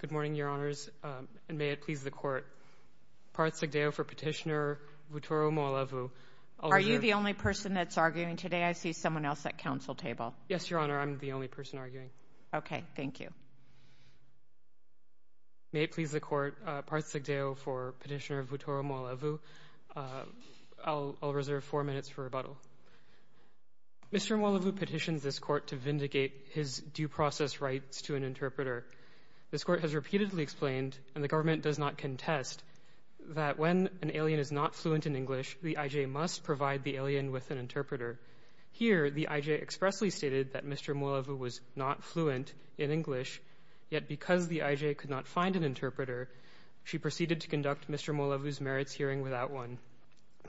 Good morning, Your Honors, and may it please the Court, Parth Sigdeo for Petitioner Vutoro Mualevu. Are you the only person that's arguing today? I see someone else at council table. Yes, Your Honor, I'm the only person arguing. Okay, thank you. May it please the Court, Parth Sigdeo for Petitioner Vutoro Mualevu. I'll reserve four minutes for rebuttal. Mr. Mualevu petitions this Court to vindicate his due process rights to an interpreter. This Court has repeatedly explained, and the government does not contest, that when an alien is not fluent in English, the IJ must provide the alien with an interpreter. Here, the IJ expressly stated that Mr. Mualevu was not fluent in English, yet because the IJ could not find an interpreter, she proceeded to conduct Mr. Mualevu's merits hearing without one.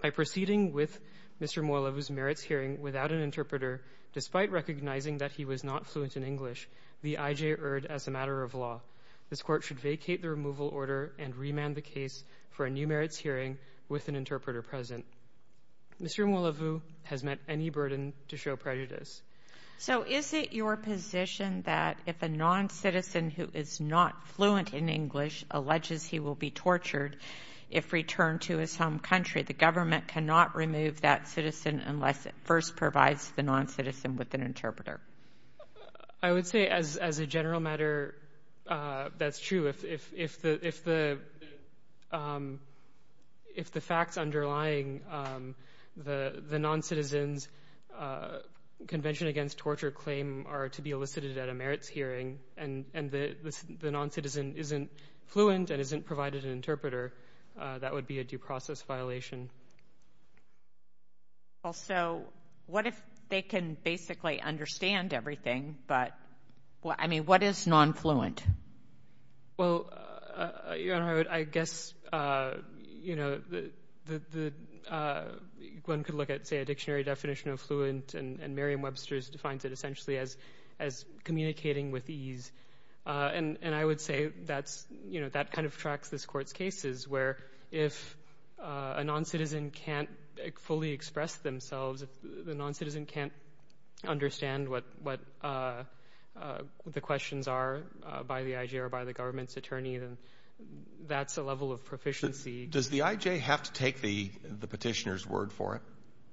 By proceeding with Mr. Mualevu's merits hearing without an interpreter, despite recognizing that he was not fluent in English, the IJ erred as a matter of law. This Court should vacate the removal order and remand the case for a new merits hearing with an interpreter present. Mr. Mualevu has met any burden to show prejudice. So is it your position that if a non-citizen who is not fluent in English alleges he will be tortured if returned to his home country, the government cannot remove that citizen unless it first provides the non-citizen with an interpreter? I would say as a general matter, that's true. If the facts underlying the non-citizen's Convention Against Torture claim are to be elicited at a merits hearing, and the non-citizen isn't fluent and isn't provided an interpreter, that would be a due process violation. So what if they can basically understand everything, but, I mean, what is non-fluent? Well, Your Honor, I guess, you know, one could look at, say, a dictionary definition of fluent, and Merriam-Webster defines it essentially as communicating with ease. And I would say that's, you know, that kind of tracks this Court's cases, where if a non-citizen can't fully express themselves, if the non-citizen can't understand what the questions are by the I.G. or by the government's attorney, then that's a level of proficiency. Does the I.G. have to take the petitioner's word for it?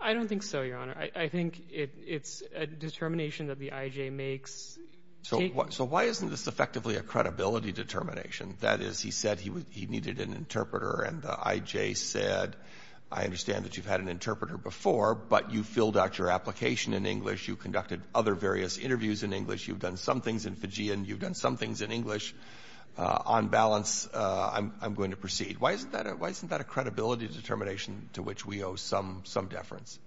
I don't think so, Your Honor. I think it's a determination that the I.G. makes. So why isn't this effectively a credibility determination? That is, he said he needed an interpreter, and the I.G. said, I understand that you've had an interpreter before, but you filled out your application in English, you conducted other various interviews in English, you've done some things in Fijian, you've done some things in English. On balance, I'm going to proceed. Why isn't that a credibility determination to which we owe some deference?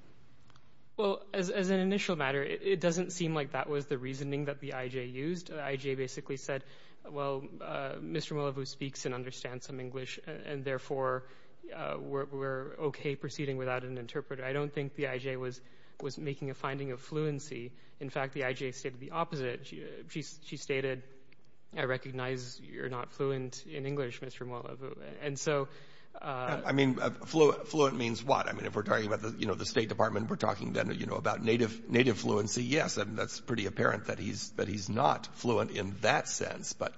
Well, as an initial matter, it doesn't seem like that was the reasoning that the I.G. used. The I.G. basically said, well, Mr. Molavu speaks and understands some English, and therefore we're okay proceeding without an interpreter. I don't think the I.G. was making a finding of fluency. In fact, the I.G. stated the opposite. She stated, I recognize you're not fluent in English, Mr. Molavu. And so— I mean, fluent means what? I mean, if we're talking about the State Department, we're talking then about native fluency, yes, and that's pretty apparent that he's not fluent in that sense. But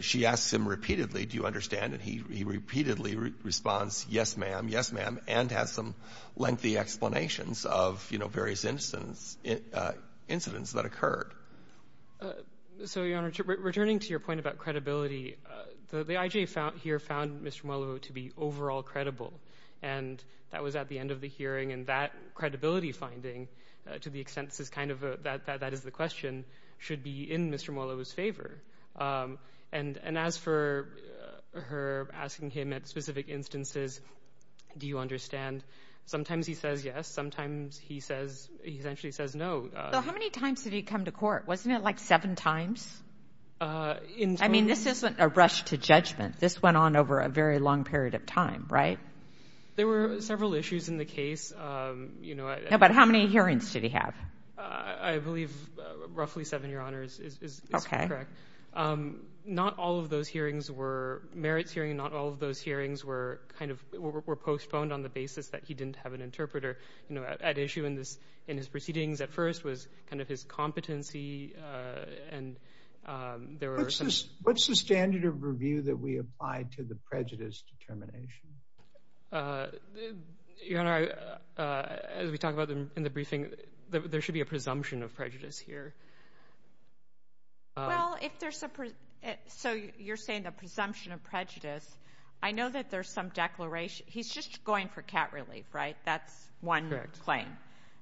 she asks him repeatedly, do you understand? And he repeatedly responds, yes, ma'am, yes, ma'am, and has some lengthy explanations of various incidents that occurred. So, Your Honor, returning to your point about credibility, the I.G. here found Mr. Molavu to be overall credible, and that was at the end of the hearing, and that credibility finding, to the extent that that is the question, should be in Mr. Molavu's favor. And as for her asking him at specific instances, do you understand, sometimes he says yes, sometimes he essentially says no. So how many times did he come to court? Wasn't it like seven times? I mean, this isn't a very long period of time, right? There were several issues in the case, you know— But how many hearings did he have? I believe roughly seven, Your Honor, is correct. Not all of those hearings were merits hearings, not all of those hearings were kind of—were postponed on the basis that he didn't have an interpreter. You know, at issue in his proceedings at first was kind of his competency, and there were— What's the standard of review that we apply to the prejudice determination? Your Honor, as we talked about in the briefing, there should be a presumption of prejudice here. Well, if there's a—so you're saying a presumption of prejudice. I know that there's some declaration—he's just going for cat relief, right? That's one claim.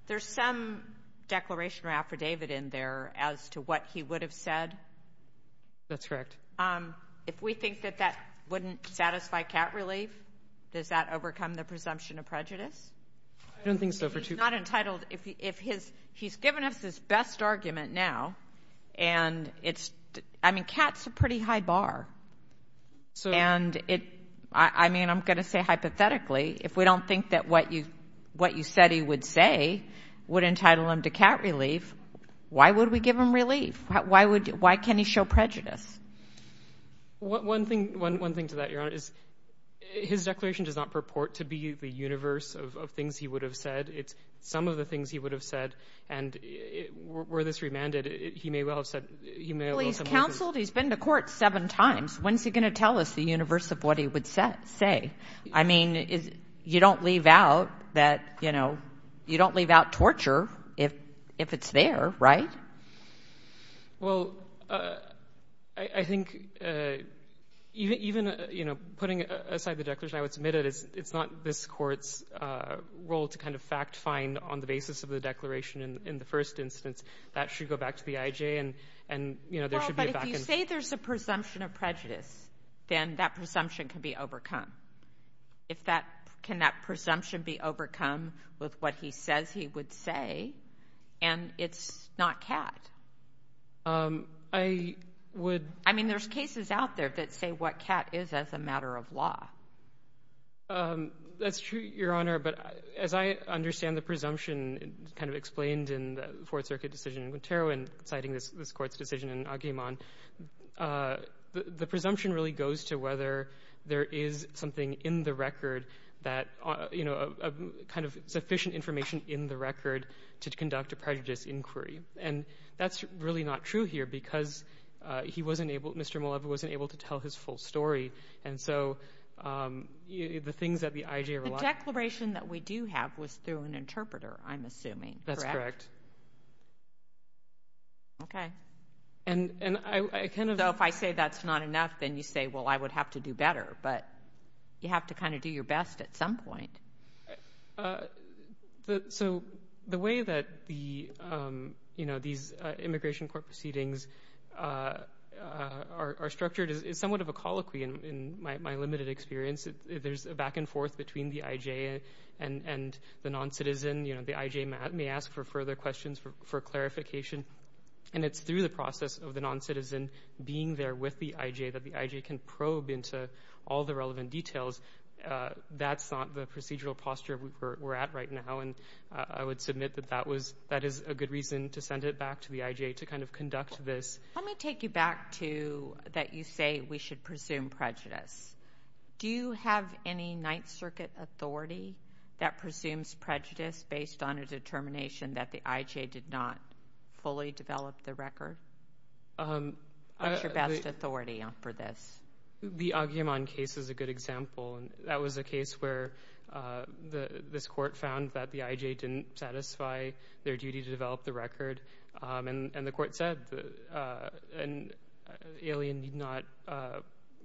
There's some declaration or affidavit in there as to what he would have said. That's correct. If we think that that wouldn't satisfy cat relief, does that overcome the presumption of prejudice? I don't think so. If he's not entitled—if his—he's given us his best argument now, and it's—I mean, cat's a pretty high bar. And it—I mean, I'm going to say hypothetically, if we don't think that what you said he would say would entitle him to cat relief, why would we give him relief? Why would—why can't he show prejudice? One thing—one thing to that, Your Honor, is his declaration does not purport to be the universe of things he would have said. It's some of the things he would have said. And were this remanded, he may well have said—he may well have— Well, he's counseled. He's been to court seven times. When's he going to tell us the universe of what he would say? I mean, you don't leave out that—you know, you don't leave out torture if it's there, right? Well, I think even, you know, putting aside the declaration, I would submit it as it's not this Court's role to kind of fact-find on the basis of the declaration in the first instance. That should go back to the IJ, and, you know, there should be a back-and-forth. Well, but if you say there's a presumption of prejudice, then that presumption can be and it's not CAT. I would— I mean, there's cases out there that say what CAT is as a matter of law. That's true, Your Honor, but as I understand the presumption kind of explained in the Fourth Circuit decision in Guterro in citing this Court's decision in Aguiman, the presumption really goes to whether there is something in the record that, you know, kind of sufficient information in the record to conduct a prejudice inquiry, and that's really not true here because he wasn't able—Mr. Muleva wasn't able to tell his full story, and so the things that the IJ relied on— The declaration that we do have was through an interpreter, I'm assuming, correct? That's correct. Okay. And I kind of— So if I say that's not enough, then you say, well, I would have to do better, but you have to kind of do your best at some point. Yeah. So the way that the, you know, these Immigration Court proceedings are structured is somewhat of a colloquy in my limited experience. There's a back and forth between the IJ and the noncitizen. You know, the IJ may ask for further questions for clarification, and it's through the process of the noncitizen being there with the IJ that the IJ can probe into all the relevant details. That's not the procedural posture we're at right now, and I would submit that that was—that is a good reason to send it back to the IJ to kind of conduct this. Let me take you back to that you say we should presume prejudice. Do you have any Ninth Circuit authority that presumes prejudice based on a determination that the IJ did not fully develop the record? What's your best authority for this? The Agyeman case is a good example. That was a case where this court found that the IJ didn't satisfy their duty to develop the record, and the court said an alien need not—a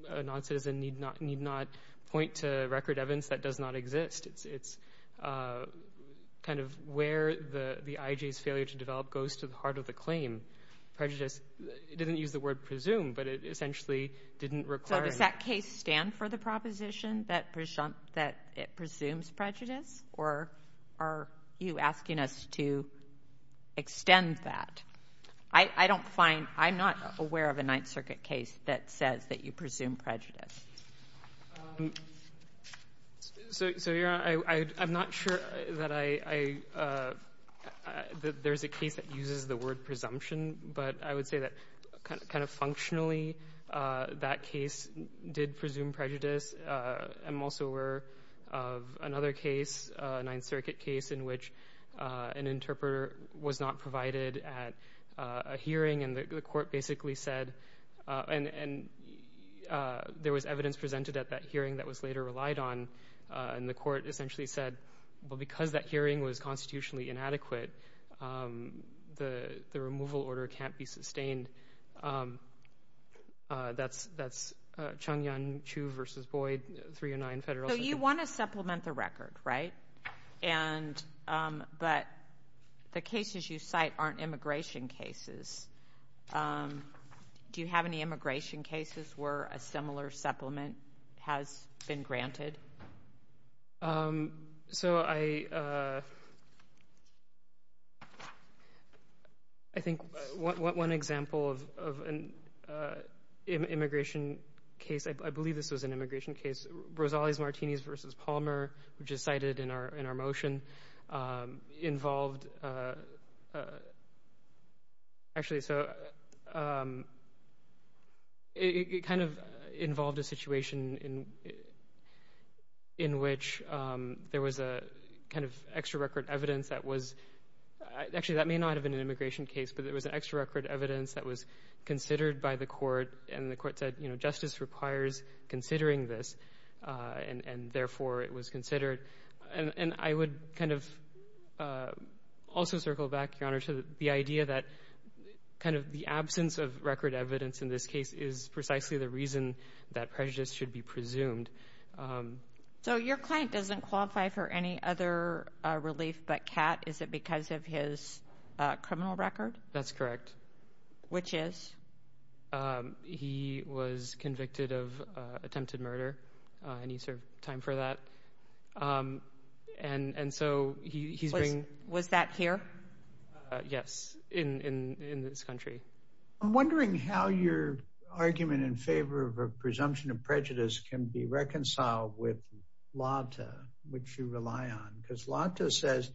noncitizen need not point to record evidence that does not exist. It's kind of where the IJ's failure to develop goes to the heart of the claim. Prejudice—it didn't use the word presume, but it essentially didn't require— So does that case stand for the proposition that it presumes prejudice, or are you asking us to extend that? I don't find—I'm not aware of a Ninth Circuit case that says that you presume prejudice. So, Your Honor, I'm not sure that I—that there's a case that uses the word presumption, but I would say that kind of functionally that case did presume prejudice. I'm also aware of another case, a Ninth Circuit case, in which an interpreter was not provided at a hearing, and the court basically said—and there was evidence presented at that hearing that was later relied on, and the court essentially said, well, because that hearing was constitutionally inadequate, the removal order can't be sustained. That's Chung-Yun Chu v. Boyd, 309 Federal Circuit. You want to supplement the record, right? But the cases you cite aren't immigration cases. Do you have any immigration cases where a similar supplement has been granted? So I think one example of an immigration case—I believe this was an immigration case. Rosales-Martinez v. Palmer, which is cited in our motion, involved—actually, so it kind of involved a situation in which there was a kind of extra-record evidence that was—actually, that may not have been an immigration case, but there was an extra-record evidence that was considered by the court, and the court said, justice requires considering this, and therefore it was considered. And I would kind of also circle back, Your Honor, to the idea that kind of the absence of record evidence in this case is precisely the reason that prejudice should be presumed. So your client doesn't qualify for any other relief but CAT. Is it because of his criminal record? That's correct. Which is? He was convicted of attempted murder, and he served time for that, and so he's— Was that here? Yes, in this country. I'm wondering how your argument in favor of a presumption of prejudice can be reconciled with LATA, which you rely on. Because LATA says,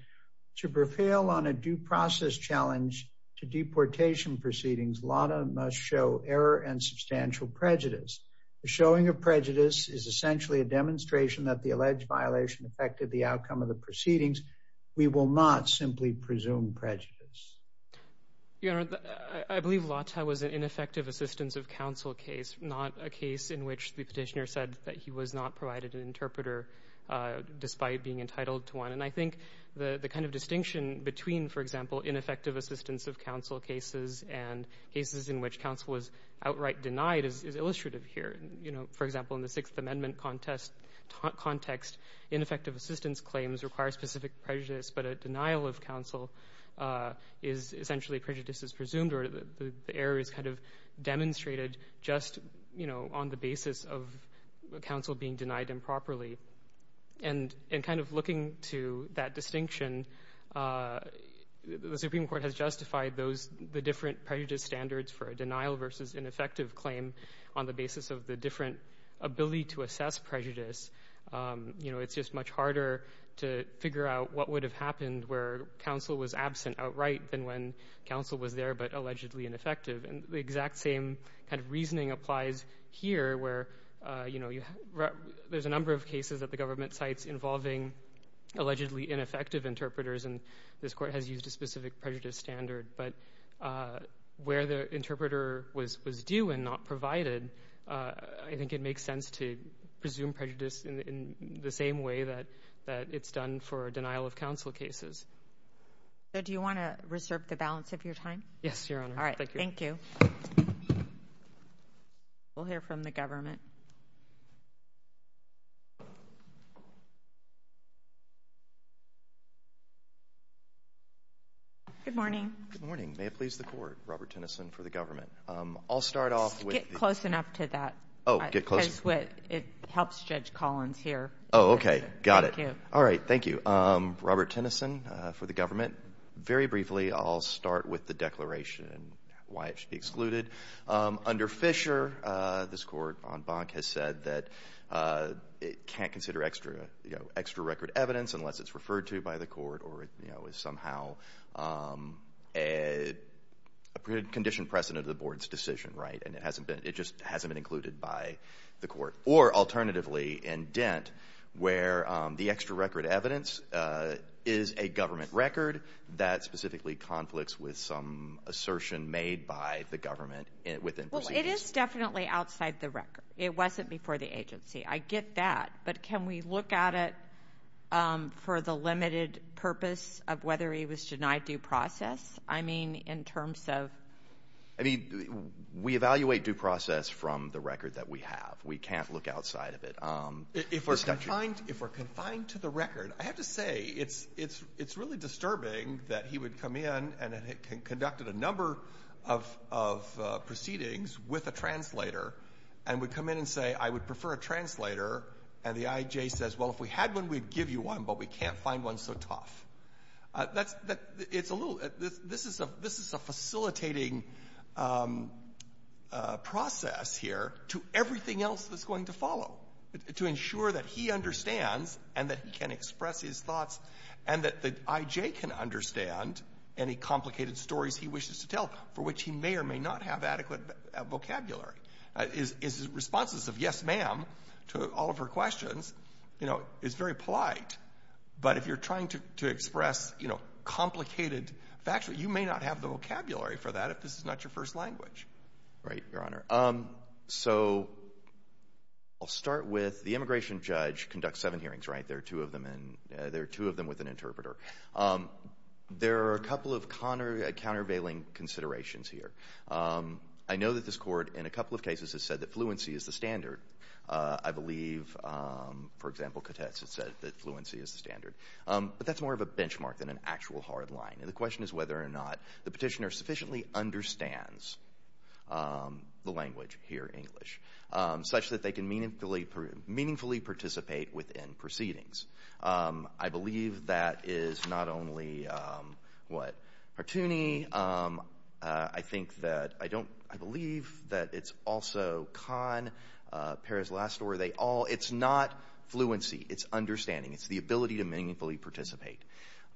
to prevail on a due process challenge to deportation proceedings, LATA must show error and substantial prejudice. The showing of prejudice is essentially a demonstration that the alleged violation affected the outcome of the proceedings. We will not simply presume prejudice. Your Honor, I believe LATA was an ineffective assistance of counsel case, not a case in which the petitioner said that he was not provided an interpreter despite being entitled to one. And I think the kind of distinction between, for example, ineffective assistance of counsel cases and cases in which counsel was outright denied is illustrative here. For example, in the Sixth Amendment context, ineffective assistance claims require specific prejudice, but a denial of counsel is essentially prejudice is presumed, or the error is kind of demonstrated just on the basis of counsel being denied improperly. And in kind of looking to that distinction, the Supreme Court has justified the different prejudice standards for a denial versus ineffective claim on the basis of the different ability to assess prejudice. You know, it's just much harder to figure out what would have happened where counsel was absent outright than when counsel was there but allegedly ineffective. And the exact same kind of reasoning applies here, where, you know, there's a number of involvement sites involving allegedly ineffective interpreters, and this Court has used a specific prejudice standard. But where the interpreter was due and not provided, I think it makes sense to presume prejudice in the same way that it's done for denial of counsel cases. So do you want to reserve the balance of your time? Yes, Your Honor. All right. Thank you. We'll hear from the government. Good morning. Good morning. May it please the Court. Robert Tennyson for the government. I'll start off with... Just get close enough to that. Oh, get close... Because it helps Judge Collins here. Oh, okay. Got it. Thank you. All right. Thank you. Robert Tennyson for the government. Very briefly, I'll start with the declaration and why it should be excluded. Under Fisher, this Court, on Bonk, has said that it can't consider extraterritorial extra record evidence unless it's referred to by the Court or is somehow a conditioned precedent of the Board's decision, right? And it just hasn't been included by the Court. Or, alternatively, in Dent, where the extra record evidence is a government record that specifically conflicts with some assertion made by the government within procedures. Well, it is definitely outside the record. It wasn't before the agency. I get that. But can we look at it for the limited purpose of whether he was denied due process? I mean, in terms of... I mean, we evaluate due process from the record that we have. We can't look outside of it. If we're confined to the record, I have to say, it's really disturbing that he would come in and had conducted a number of proceedings with a translator and would come in and say, I would prefer a translator. And the IJ says, well, if we had one, we'd give you one, but we can't find one so tough. It's a little... This is a facilitating process here to everything else that's going to follow, to ensure that he understands and that he can express his thoughts and that the IJ can understand any complicated stories he wishes to tell, for which he may or may not have adequate vocabulary. His responses of, yes, ma'am, to all of her questions is very polite. But if you're trying to express complicated facts, you may not have the vocabulary for that if this is not your first language. Right, Your Honor. So I'll start with the immigration judge conducts seven hearings, right? There are two of them with an interpreter. There are a couple of countervailing considerations here. I know that this court, in a couple of cases, has said that fluency is the standard. I believe, for example, Katetz has said that fluency is the standard. But that's more of a benchmark than an actual hard line. And the question is whether or not the petitioner sufficiently understands the language here in English, such that they can meaningfully participate within proceedings. I believe that is not only, what, cartoony. I think that, I don't, I believe that it's also con Paris' last story. They all, it's not fluency. It's understanding. It's the ability to meaningfully participate.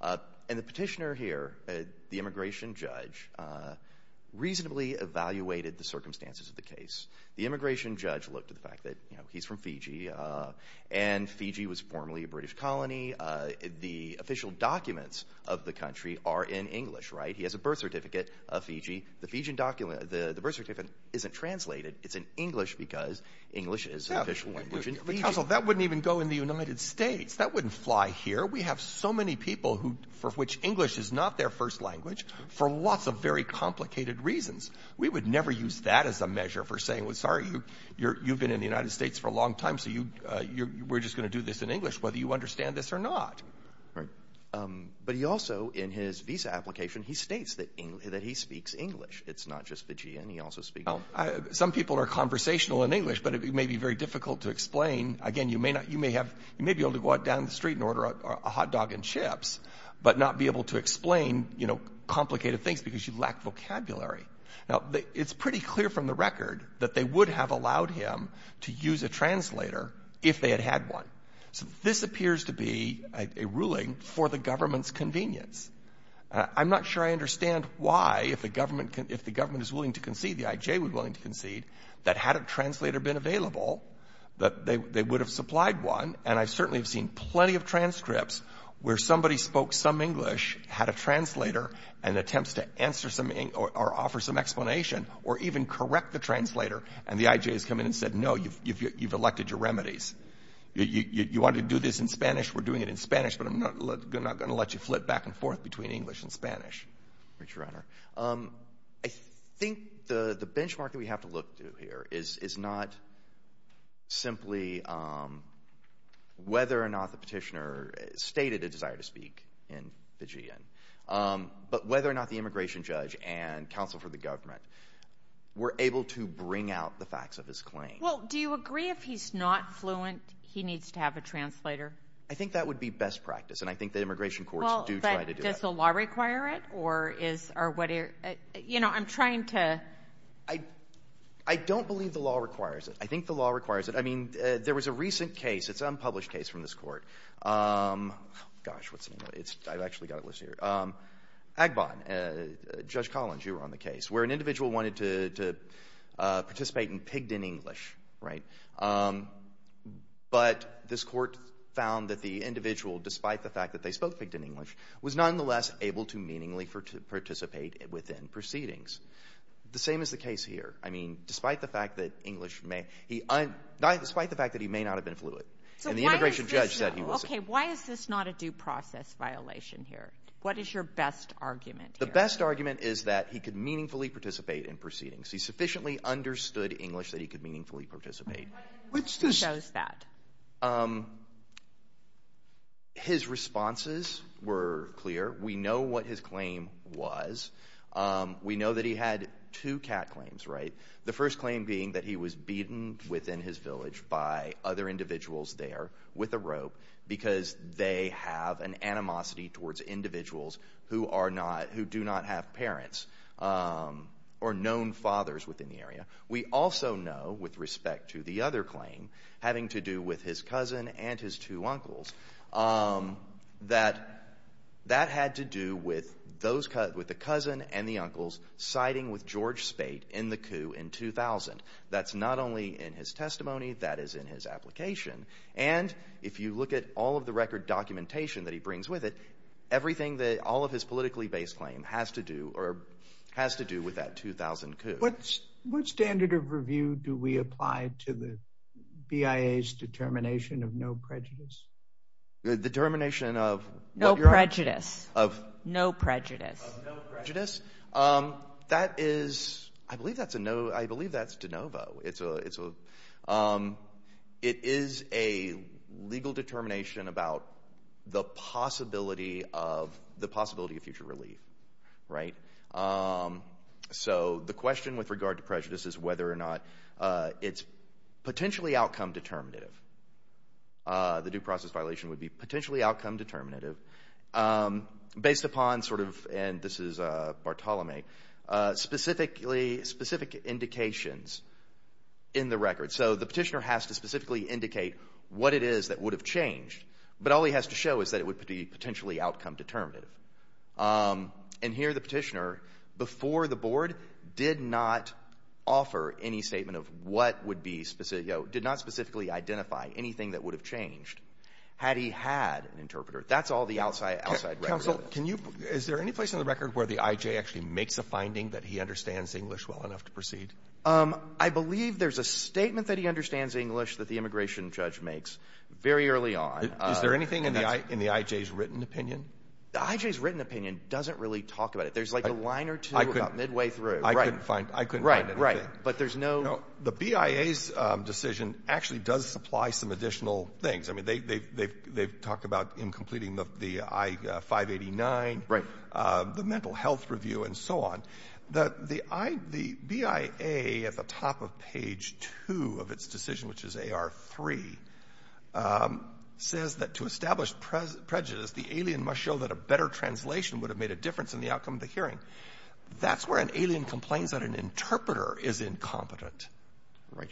And the petitioner here, the immigration judge, reasonably evaluated the circumstances of the case. The immigration judge looked at the fact that, you know, he's from Fiji. And Fiji was formerly a British colony. The official documents of the country are in English, right? He has a birth certificate of Fiji. The Fijian document, the birth certificate isn't translated. It's in English because English is an official language in Fiji. Yeah, but counsel, that wouldn't even go in the United States. That wouldn't fly here. We have so many people who, for which English is not their first language, for lots of very complicated reasons. We would never use that as a measure for saying, well, sorry, you've been in the United States for a long time, so you, we're just going to do this in English, whether you understand this or not. Right. But he also, in his visa application, he states that he speaks English. It's not just Fijian. He also speaks English. Some people are conversational in English, but it may be very difficult to explain. Again, you may not, you may have, you may be able to go out down the street and order a hot dog and chips, but not be able to explain, you know, complicated things because you lack vocabulary. Now, it's pretty clear from the record that they would have allowed him to use a translator if they had had one. So this appears to be a ruling for the government's convenience. I'm not sure I understand why, if the government can, if the government is willing to concede, the IJ was willing to concede, that had a translator been available, that they would have supplied one, and I certainly have seen plenty of transcripts where somebody spoke some English, had a translator, and attempts to answer some, or offer some explanation, or even correct the translator, and the IJ has come in and said, no, you've elected your remedies. You want to do this in Spanish, we're doing it in Spanish, but I'm not going to let you flip back and forth between English and Spanish. MR. RUIZ. Your Honor, I think the benchmark that we have to look to here is not simply whether or not the petitioner stated a desire to speak in the GN, but whether or not the immigration judge and counsel for the government were able to bring out the facts of his claim. MS. RUIZ. He needs to have a translator. MR. RUIZ. I think that would be best practice, and I think the immigration courts do try to do that. MS. RUIZ. Well, but does the law require it, or is, or what are, you know, I'm trying to. MR. RUIZ. I don't believe the law requires it. I think the law requires it. I mean, there was a recent case, it's an unpublished case from this Court. Gosh, what's the name of it? I've actually got it listed here. Agbon, Judge Collins, you were on the case, where an individual wanted to participate in pigged-in English, right? But this Court found that the individual, despite the fact that they spoke pigged-in English, was nonetheless able to meaningfully participate within proceedings. The same is the case here. I mean, despite the fact that English may, he, despite the fact that he may not have been fluent, and the immigration judge said he wasn't. MS. RUIZ. So why is this, okay, why is this not a due process violation here? What is your best argument here? MR. RUIZ. The best argument is that he could meaningfully participate in proceedings. He sufficiently understood English that he could meaningfully participate. What's this? RUIZ. What shows that? MR. RUIZ. His responses were clear. We know what his claim was. We know that he had two cat claims, right? The first claim being that he was beaten within his village by other individuals there with a rope because they have an animosity towards individuals who are not, who do not have parents or known fathers within the area. We also know with respect to the other claim having to do with his cousin and his two uncles that that had to do with those, with the cousin and the uncles siding with George Spate in the coup in 2000. That's not only in his testimony. That is in his application. And if you look at all of the record documentation that he brings with it, everything that all of his politically based claim has to do or has to do with that 2000 coup. What standard of review do we apply to the BIA's determination of no prejudice? RUIZ. Determination of? MS. No prejudice. RUIZ. Of? MS. No prejudice. MR. RUIZ. Of no prejudice? That is, I believe that's a no, I believe that's de novo. It's a, it's a, it is a legal determination about the possibility of, the possibility of future relief, right? Um, so the question with regard to prejudice is whether or not, uh, it's potentially outcome determinative. Uh, the due process violation would be potentially outcome determinative, um, based upon sort of, and this is, uh, Bartolome, uh, specifically, specific indications in the record. So the petitioner has to specifically indicate what it is that would have changed, but all he has to show is that it would be potentially outcome determinative. Um, and here the petitioner, before the board, did not offer any statement of what would be specific, you know, did not specifically identify anything that would have changed had he had an interpreter. That's all the outside, outside record. Counsel, can you, is there any place in the record where the IJ actually makes a finding that he understands English well enough to proceed? Um, I believe there's a statement that he understands English that the immigration judge makes very early on. Is there anything in the I, in the IJ's written opinion? The IJ's written opinion doesn't really talk about it. There's like a line or two about midway through. I couldn't find, I couldn't find anything. Right, right. But there's no... No, the BIA's, um, decision actually does supply some additional things. I mean, they, they, they've, they've talked about in completing the, the I, uh, 589. Right. Uh, the mental health review and so on. The, the I, the BIA at the top of page two of its decision, which is AR3, um, says that to establish prejudice, the alien must show that a better translation would have made a difference in the outcome of the hearing. That's where an alien complains that an interpreter is incompetent. Right.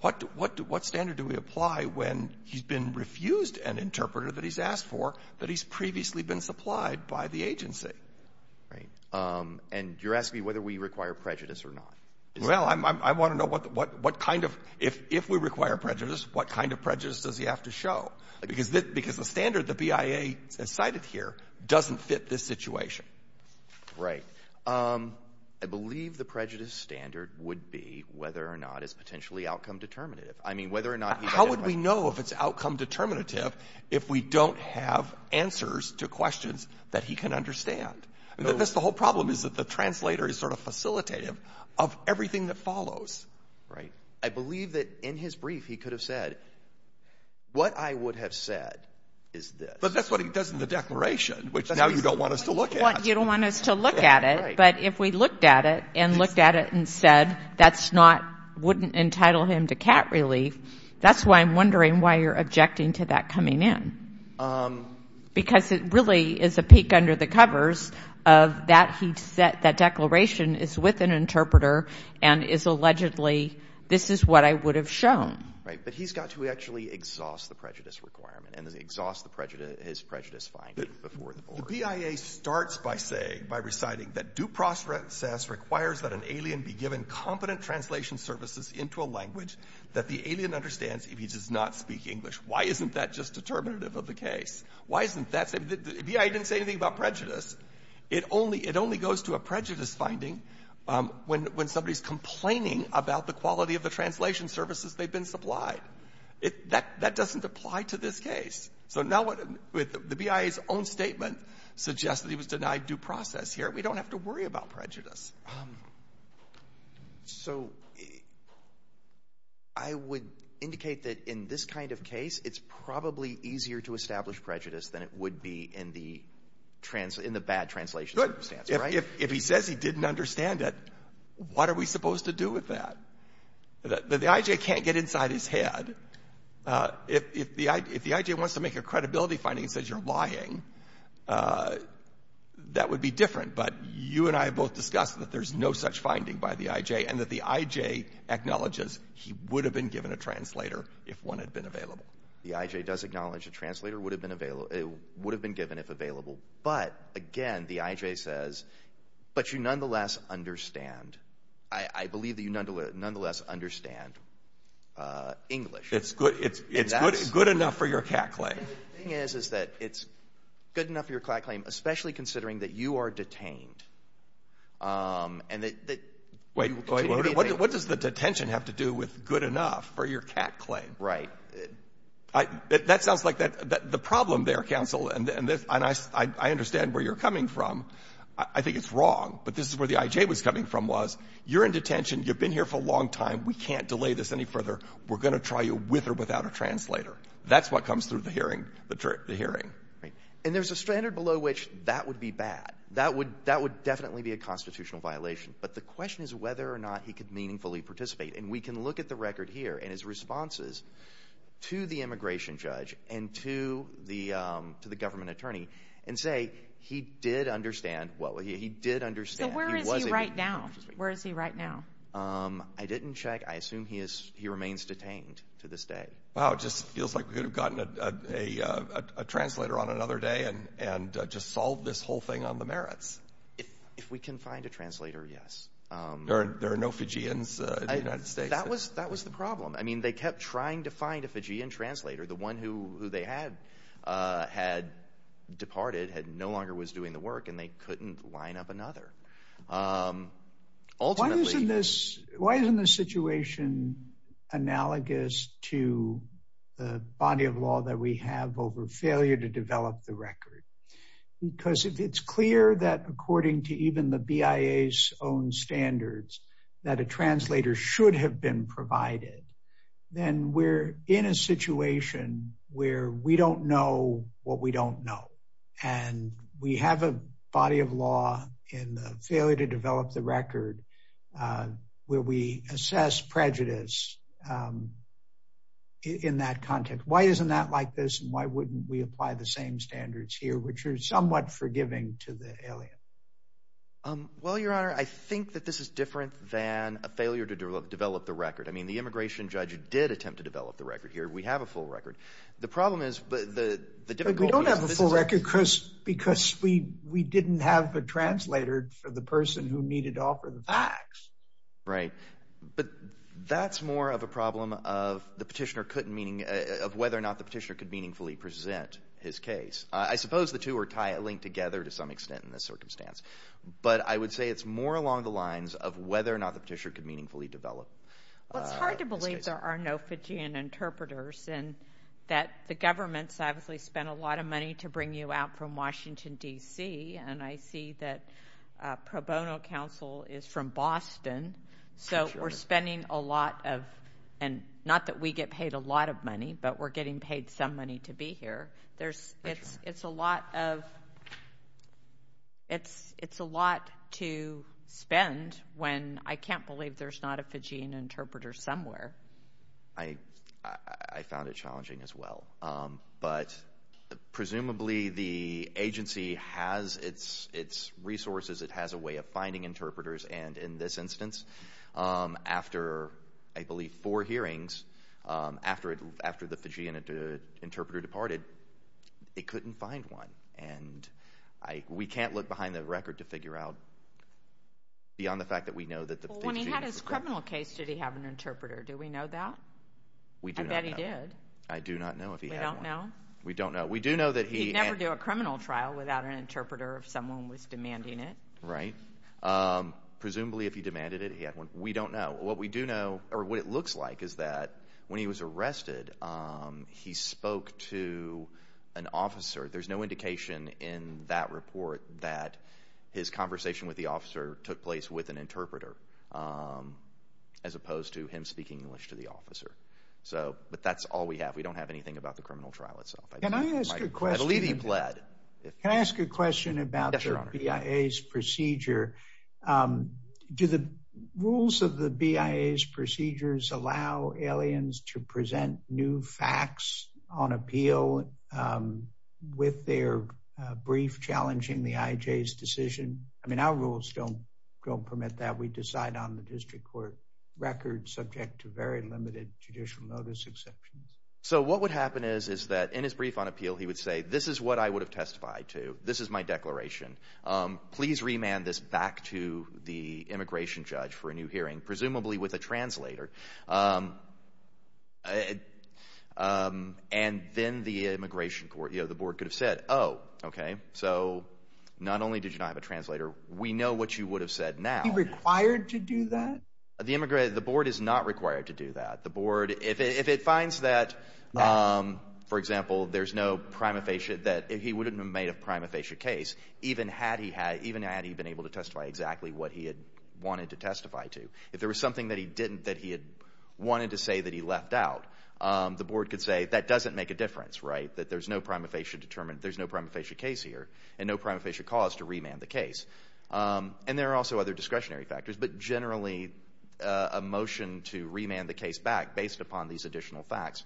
What, what, what standard do we apply when he's been refused an interpreter that he's asked for that he's previously been supplied by the agency? Right. Um, and you're asking me whether we require prejudice or not? Well, I'm, I'm, I want to know what, what, what kind of, if, if we require prejudice, what kind of prejudice does he have to show? Because the, because the standard the BIA has cited here doesn't fit this situation. Right. Um, I believe the prejudice standard would be whether or not it's potentially outcome determinative. I mean, whether or not he... How would we know if it's outcome determinative if we don't have answers to questions that he can understand? I mean, that's the whole problem is that the translator is sort of facilitative of everything that follows. Right. I believe that in his brief, he could have said, what I would have said is this. But that's what he does in the declaration, which now you don't want us to look at. You don't want us to look at it. But if we looked at it and looked at it and said, that's not, wouldn't entitle him to cat relief. That's why I'm wondering why you're objecting to that coming in. Um. Because it really is a peek under the covers of that. That declaration is with an interpreter and is allegedly, this is what I would have shown. Right. But he's got to actually exhaust the prejudice requirement and exhaust the prejudice, his prejudice finding before the board. The BIA starts by saying, by reciting that do process requires that an alien be given competent translation services into a language that the alien understands if he does not speak English. Why isn't that just determinative of the case? Why isn't that... The BIA didn't say anything about prejudice. It only, it only goes to a prejudice finding, um, when, when somebody's complaining about the quality of the translation services they've been supplied. It, that, that doesn't apply to this case. So now what, with the BIA's own statement suggests that he was denied due process here. We don't have to worry about prejudice. So I would indicate that in this kind of case, it's probably easier to establish prejudice than it would be in the trans, in the bad translation circumstance, right? If he says he didn't understand it, what are we supposed to do with that? The IJ can't get inside his head. Uh, if, if the I, if the IJ wants to make a credibility finding and says you're lying, uh, that would be different. But you and I have both discussed that there's no such finding by the IJ and that the IJ acknowledges he would have been given a translator if one had been available. The IJ does acknowledge a translator would have been available, it would have been given if available. But again, the IJ says, but you nonetheless understand, I, I believe that you nonetheless, nonetheless understand, uh, English. It's good, it's, it's good enough for your CAC claim. And the thing is, is that it's good enough for your CAC claim, especially considering that you are detained. Um, and that, that. Wait, wait, what does the detention have to do with good enough for your CAC claim? Right. I, that sounds like that, that the problem there, counsel, and this, and I, I understand where you're coming from, I think it's wrong, but this is where the IJ was coming from was, you're in detention, you've been here for a long time, we can't delay this any further, we're going to try you with or without a translator. That's what comes through the hearing, the hearing. Right. And there's a standard below which that would be bad. That would, that would definitely be a constitutional violation. But the question is whether or not he could meaningfully participate. And we can look at the record here and his responses to the immigration judge and to the, um, to the government attorney and say he did understand, well, he did understand. So where is he right now? Where is he right now? Um, I didn't check. I assume he is, he remains detained to this day. Wow, it just feels like we could have gotten a, a, a, a translator on another day and, and just solve this whole thing on the merits. If we can find a translator, yes. There are no Fijians in the United States. That was, that was the problem. I mean, they kept trying to find a Fijian translator. The one who, who they had, uh, had departed, had no longer was doing the work and they couldn't line up another. Um, why isn't this, why isn't this situation analogous to the body of law that we have over failure to develop the record? Because if it's clear that according to even the BIA's own standards that a translator should have been provided, then we're in a situation where we don't know what we don't know. And we have a body of law in the failure to develop the record, uh, where we assess prejudice, um, in that context. Why isn't that like this? And why wouldn't we apply the same standards here, which are somewhat forgiving to the alien? Um, well, your honor, I think that this is different than a failure to develop, develop the record. I mean, the immigration judge did attempt to develop the record here. We have a full record. The problem is, but the, the difficulty, we don't have a full record because, because we, we didn't have a translator for the person who needed to offer the facts. Right. But that's more of a problem of the petitioner couldn't meaning, uh, of whether or not the petitioner could meaningfully present his case. I suppose the two are tied, linked together to some extent in this circumstance, but I would say it's more along the lines of whether or not the petitioner could meaningfully develop. Well, it's hard to believe there are no Fijian interpreters and that the government's obviously spent a lot of money to bring you out from Washington, D.C. And I see that, uh, pro bono counsel is from Boston. So we're spending a lot of, and not that we get paid a lot of money, but we're getting paid some money to be here. There's, it's, it's a lot of, it's, it's a lot to spend when I can't believe there's not a Fijian interpreter somewhere. I, I, I found it challenging as well. Um, but presumably the agency has its, its resources. It has a way of finding interpreters. And in this instance, um, after I believe four hearings, um, after it, after the Fijian interpreter departed, they couldn't find one. And I, we can't look behind the record to figure out beyond the fact that we know that the Fijian interpreter. In the criminal case, did he have an interpreter? Do we know that? We do. I bet he did. I do not know if he had one. We don't know? We don't know. We do know that he. He'd never do a criminal trial without an interpreter if someone was demanding it. Right. Um, presumably if he demanded it, he had one. We don't know. What we do know, or what it looks like is that when he was arrested, um, he spoke to an officer. There's no indication in that report that his conversation with the officer took place with an interpreter. Um, as opposed to him speaking English to the officer. So, but that's all we have. We don't have anything about the criminal trial itself. Can I ask a question? I believe he bled. Can I ask a question about the BIA's procedure? Um, do the rules of the BIA's procedures allow aliens to present new facts on appeal, um, with their, uh, brief challenging the IJ's decision? I mean, our rules don't, don't permit that. We decide on the district court record subject to very limited judicial notice exception. So, what would happen is, is that in his brief on appeal, he would say, this is what I would have testified to. This is my declaration. Um, please remand this back to the immigration judge for a new hearing, presumably with a translator. Um, uh, um, and then the immigration court, you know, the board could have said, oh, okay, so not only did you not have a translator, we know what you would have said now. Is he required to do that? The immigration, the board is not required to do that. The board, if it, if it finds that, um, for example, there's no prima facie, that he wouldn't have made a prima facie case, even had he had, even had he been able to testify exactly what he had wanted to testify to. If there was something that he didn't, that he had wanted to say that he left out, um, the board could say that doesn't make a difference, right? That there's no prima facie determined, there's no prima facie case here and no prima facie cause to remand the case. Um, and there are also other discretionary factors, but generally, uh, a motion to remand the case back based upon these additional facts,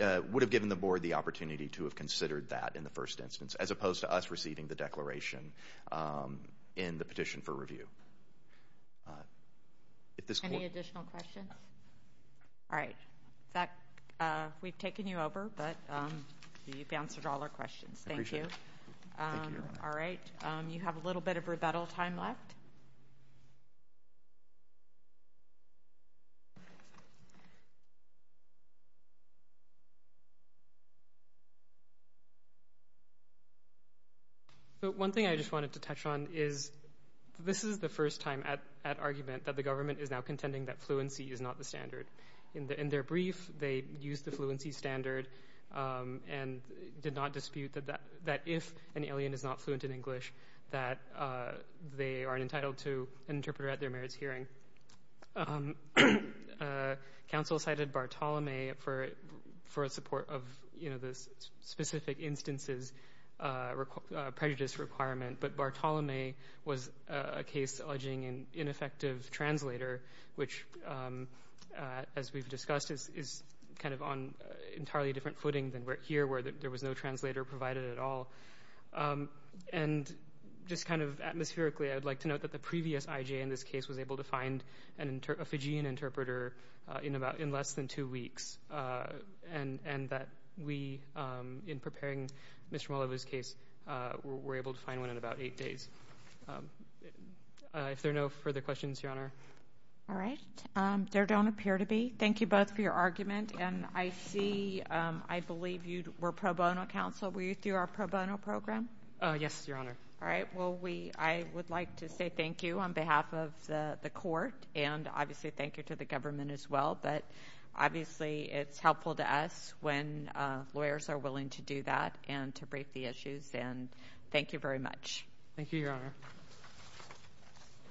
uh, would have given the board the opportunity to have considered that in the first instance, as opposed to us receiving the declaration, um, in the petition for review. Uh, at this point. Any additional questions? All right. That, uh, we've taken you over, but, um, you've answered all our questions. Thank you. Um, all right. You have a little bit of rebuttal time left. So one thing I just wanted to touch on is this is the first time at, at argument that the government is now contending that fluency is not the standard. In the, in their brief, they use the fluency standard, um, and did not dispute that, that if an alien is not fluent in English, that, uh, they aren't entitled to an interpreter at their marriage hearing. Um, uh, council cited Bartolome for, for a support of, you know, the specific instances, uh, uh, prejudice requirement, but Bartolome was a case alleging an ineffective translator, which, um, uh, as we've discussed is, is kind of on entirely different footing than where here, where there was no translator provided at all. Um, and just kind of atmospherically, I would like to note that the previous IJ in this case was able to find an inter, a Fijian interpreter, uh, in about, in less than two weeks. Uh, and, and that we, um, in preparing Mr. Molivo's case, uh, were able to find one in about eight days. Um, uh, if there are no further questions, Your Honor. All right. Um, there don't appear to be. Thank you both for your argument. And I see, um, I believe you were pro bono counsel. Were you through our pro bono program? Oh, yes, Your Honor. All right. Well, we, I would like to say thank you on behalf of the, the court and obviously thank you to the government as well. But obviously it's helpful to us when, uh, lawyers are willing to do that and to brief the issues. And thank you very much. Thank you, Your Honor.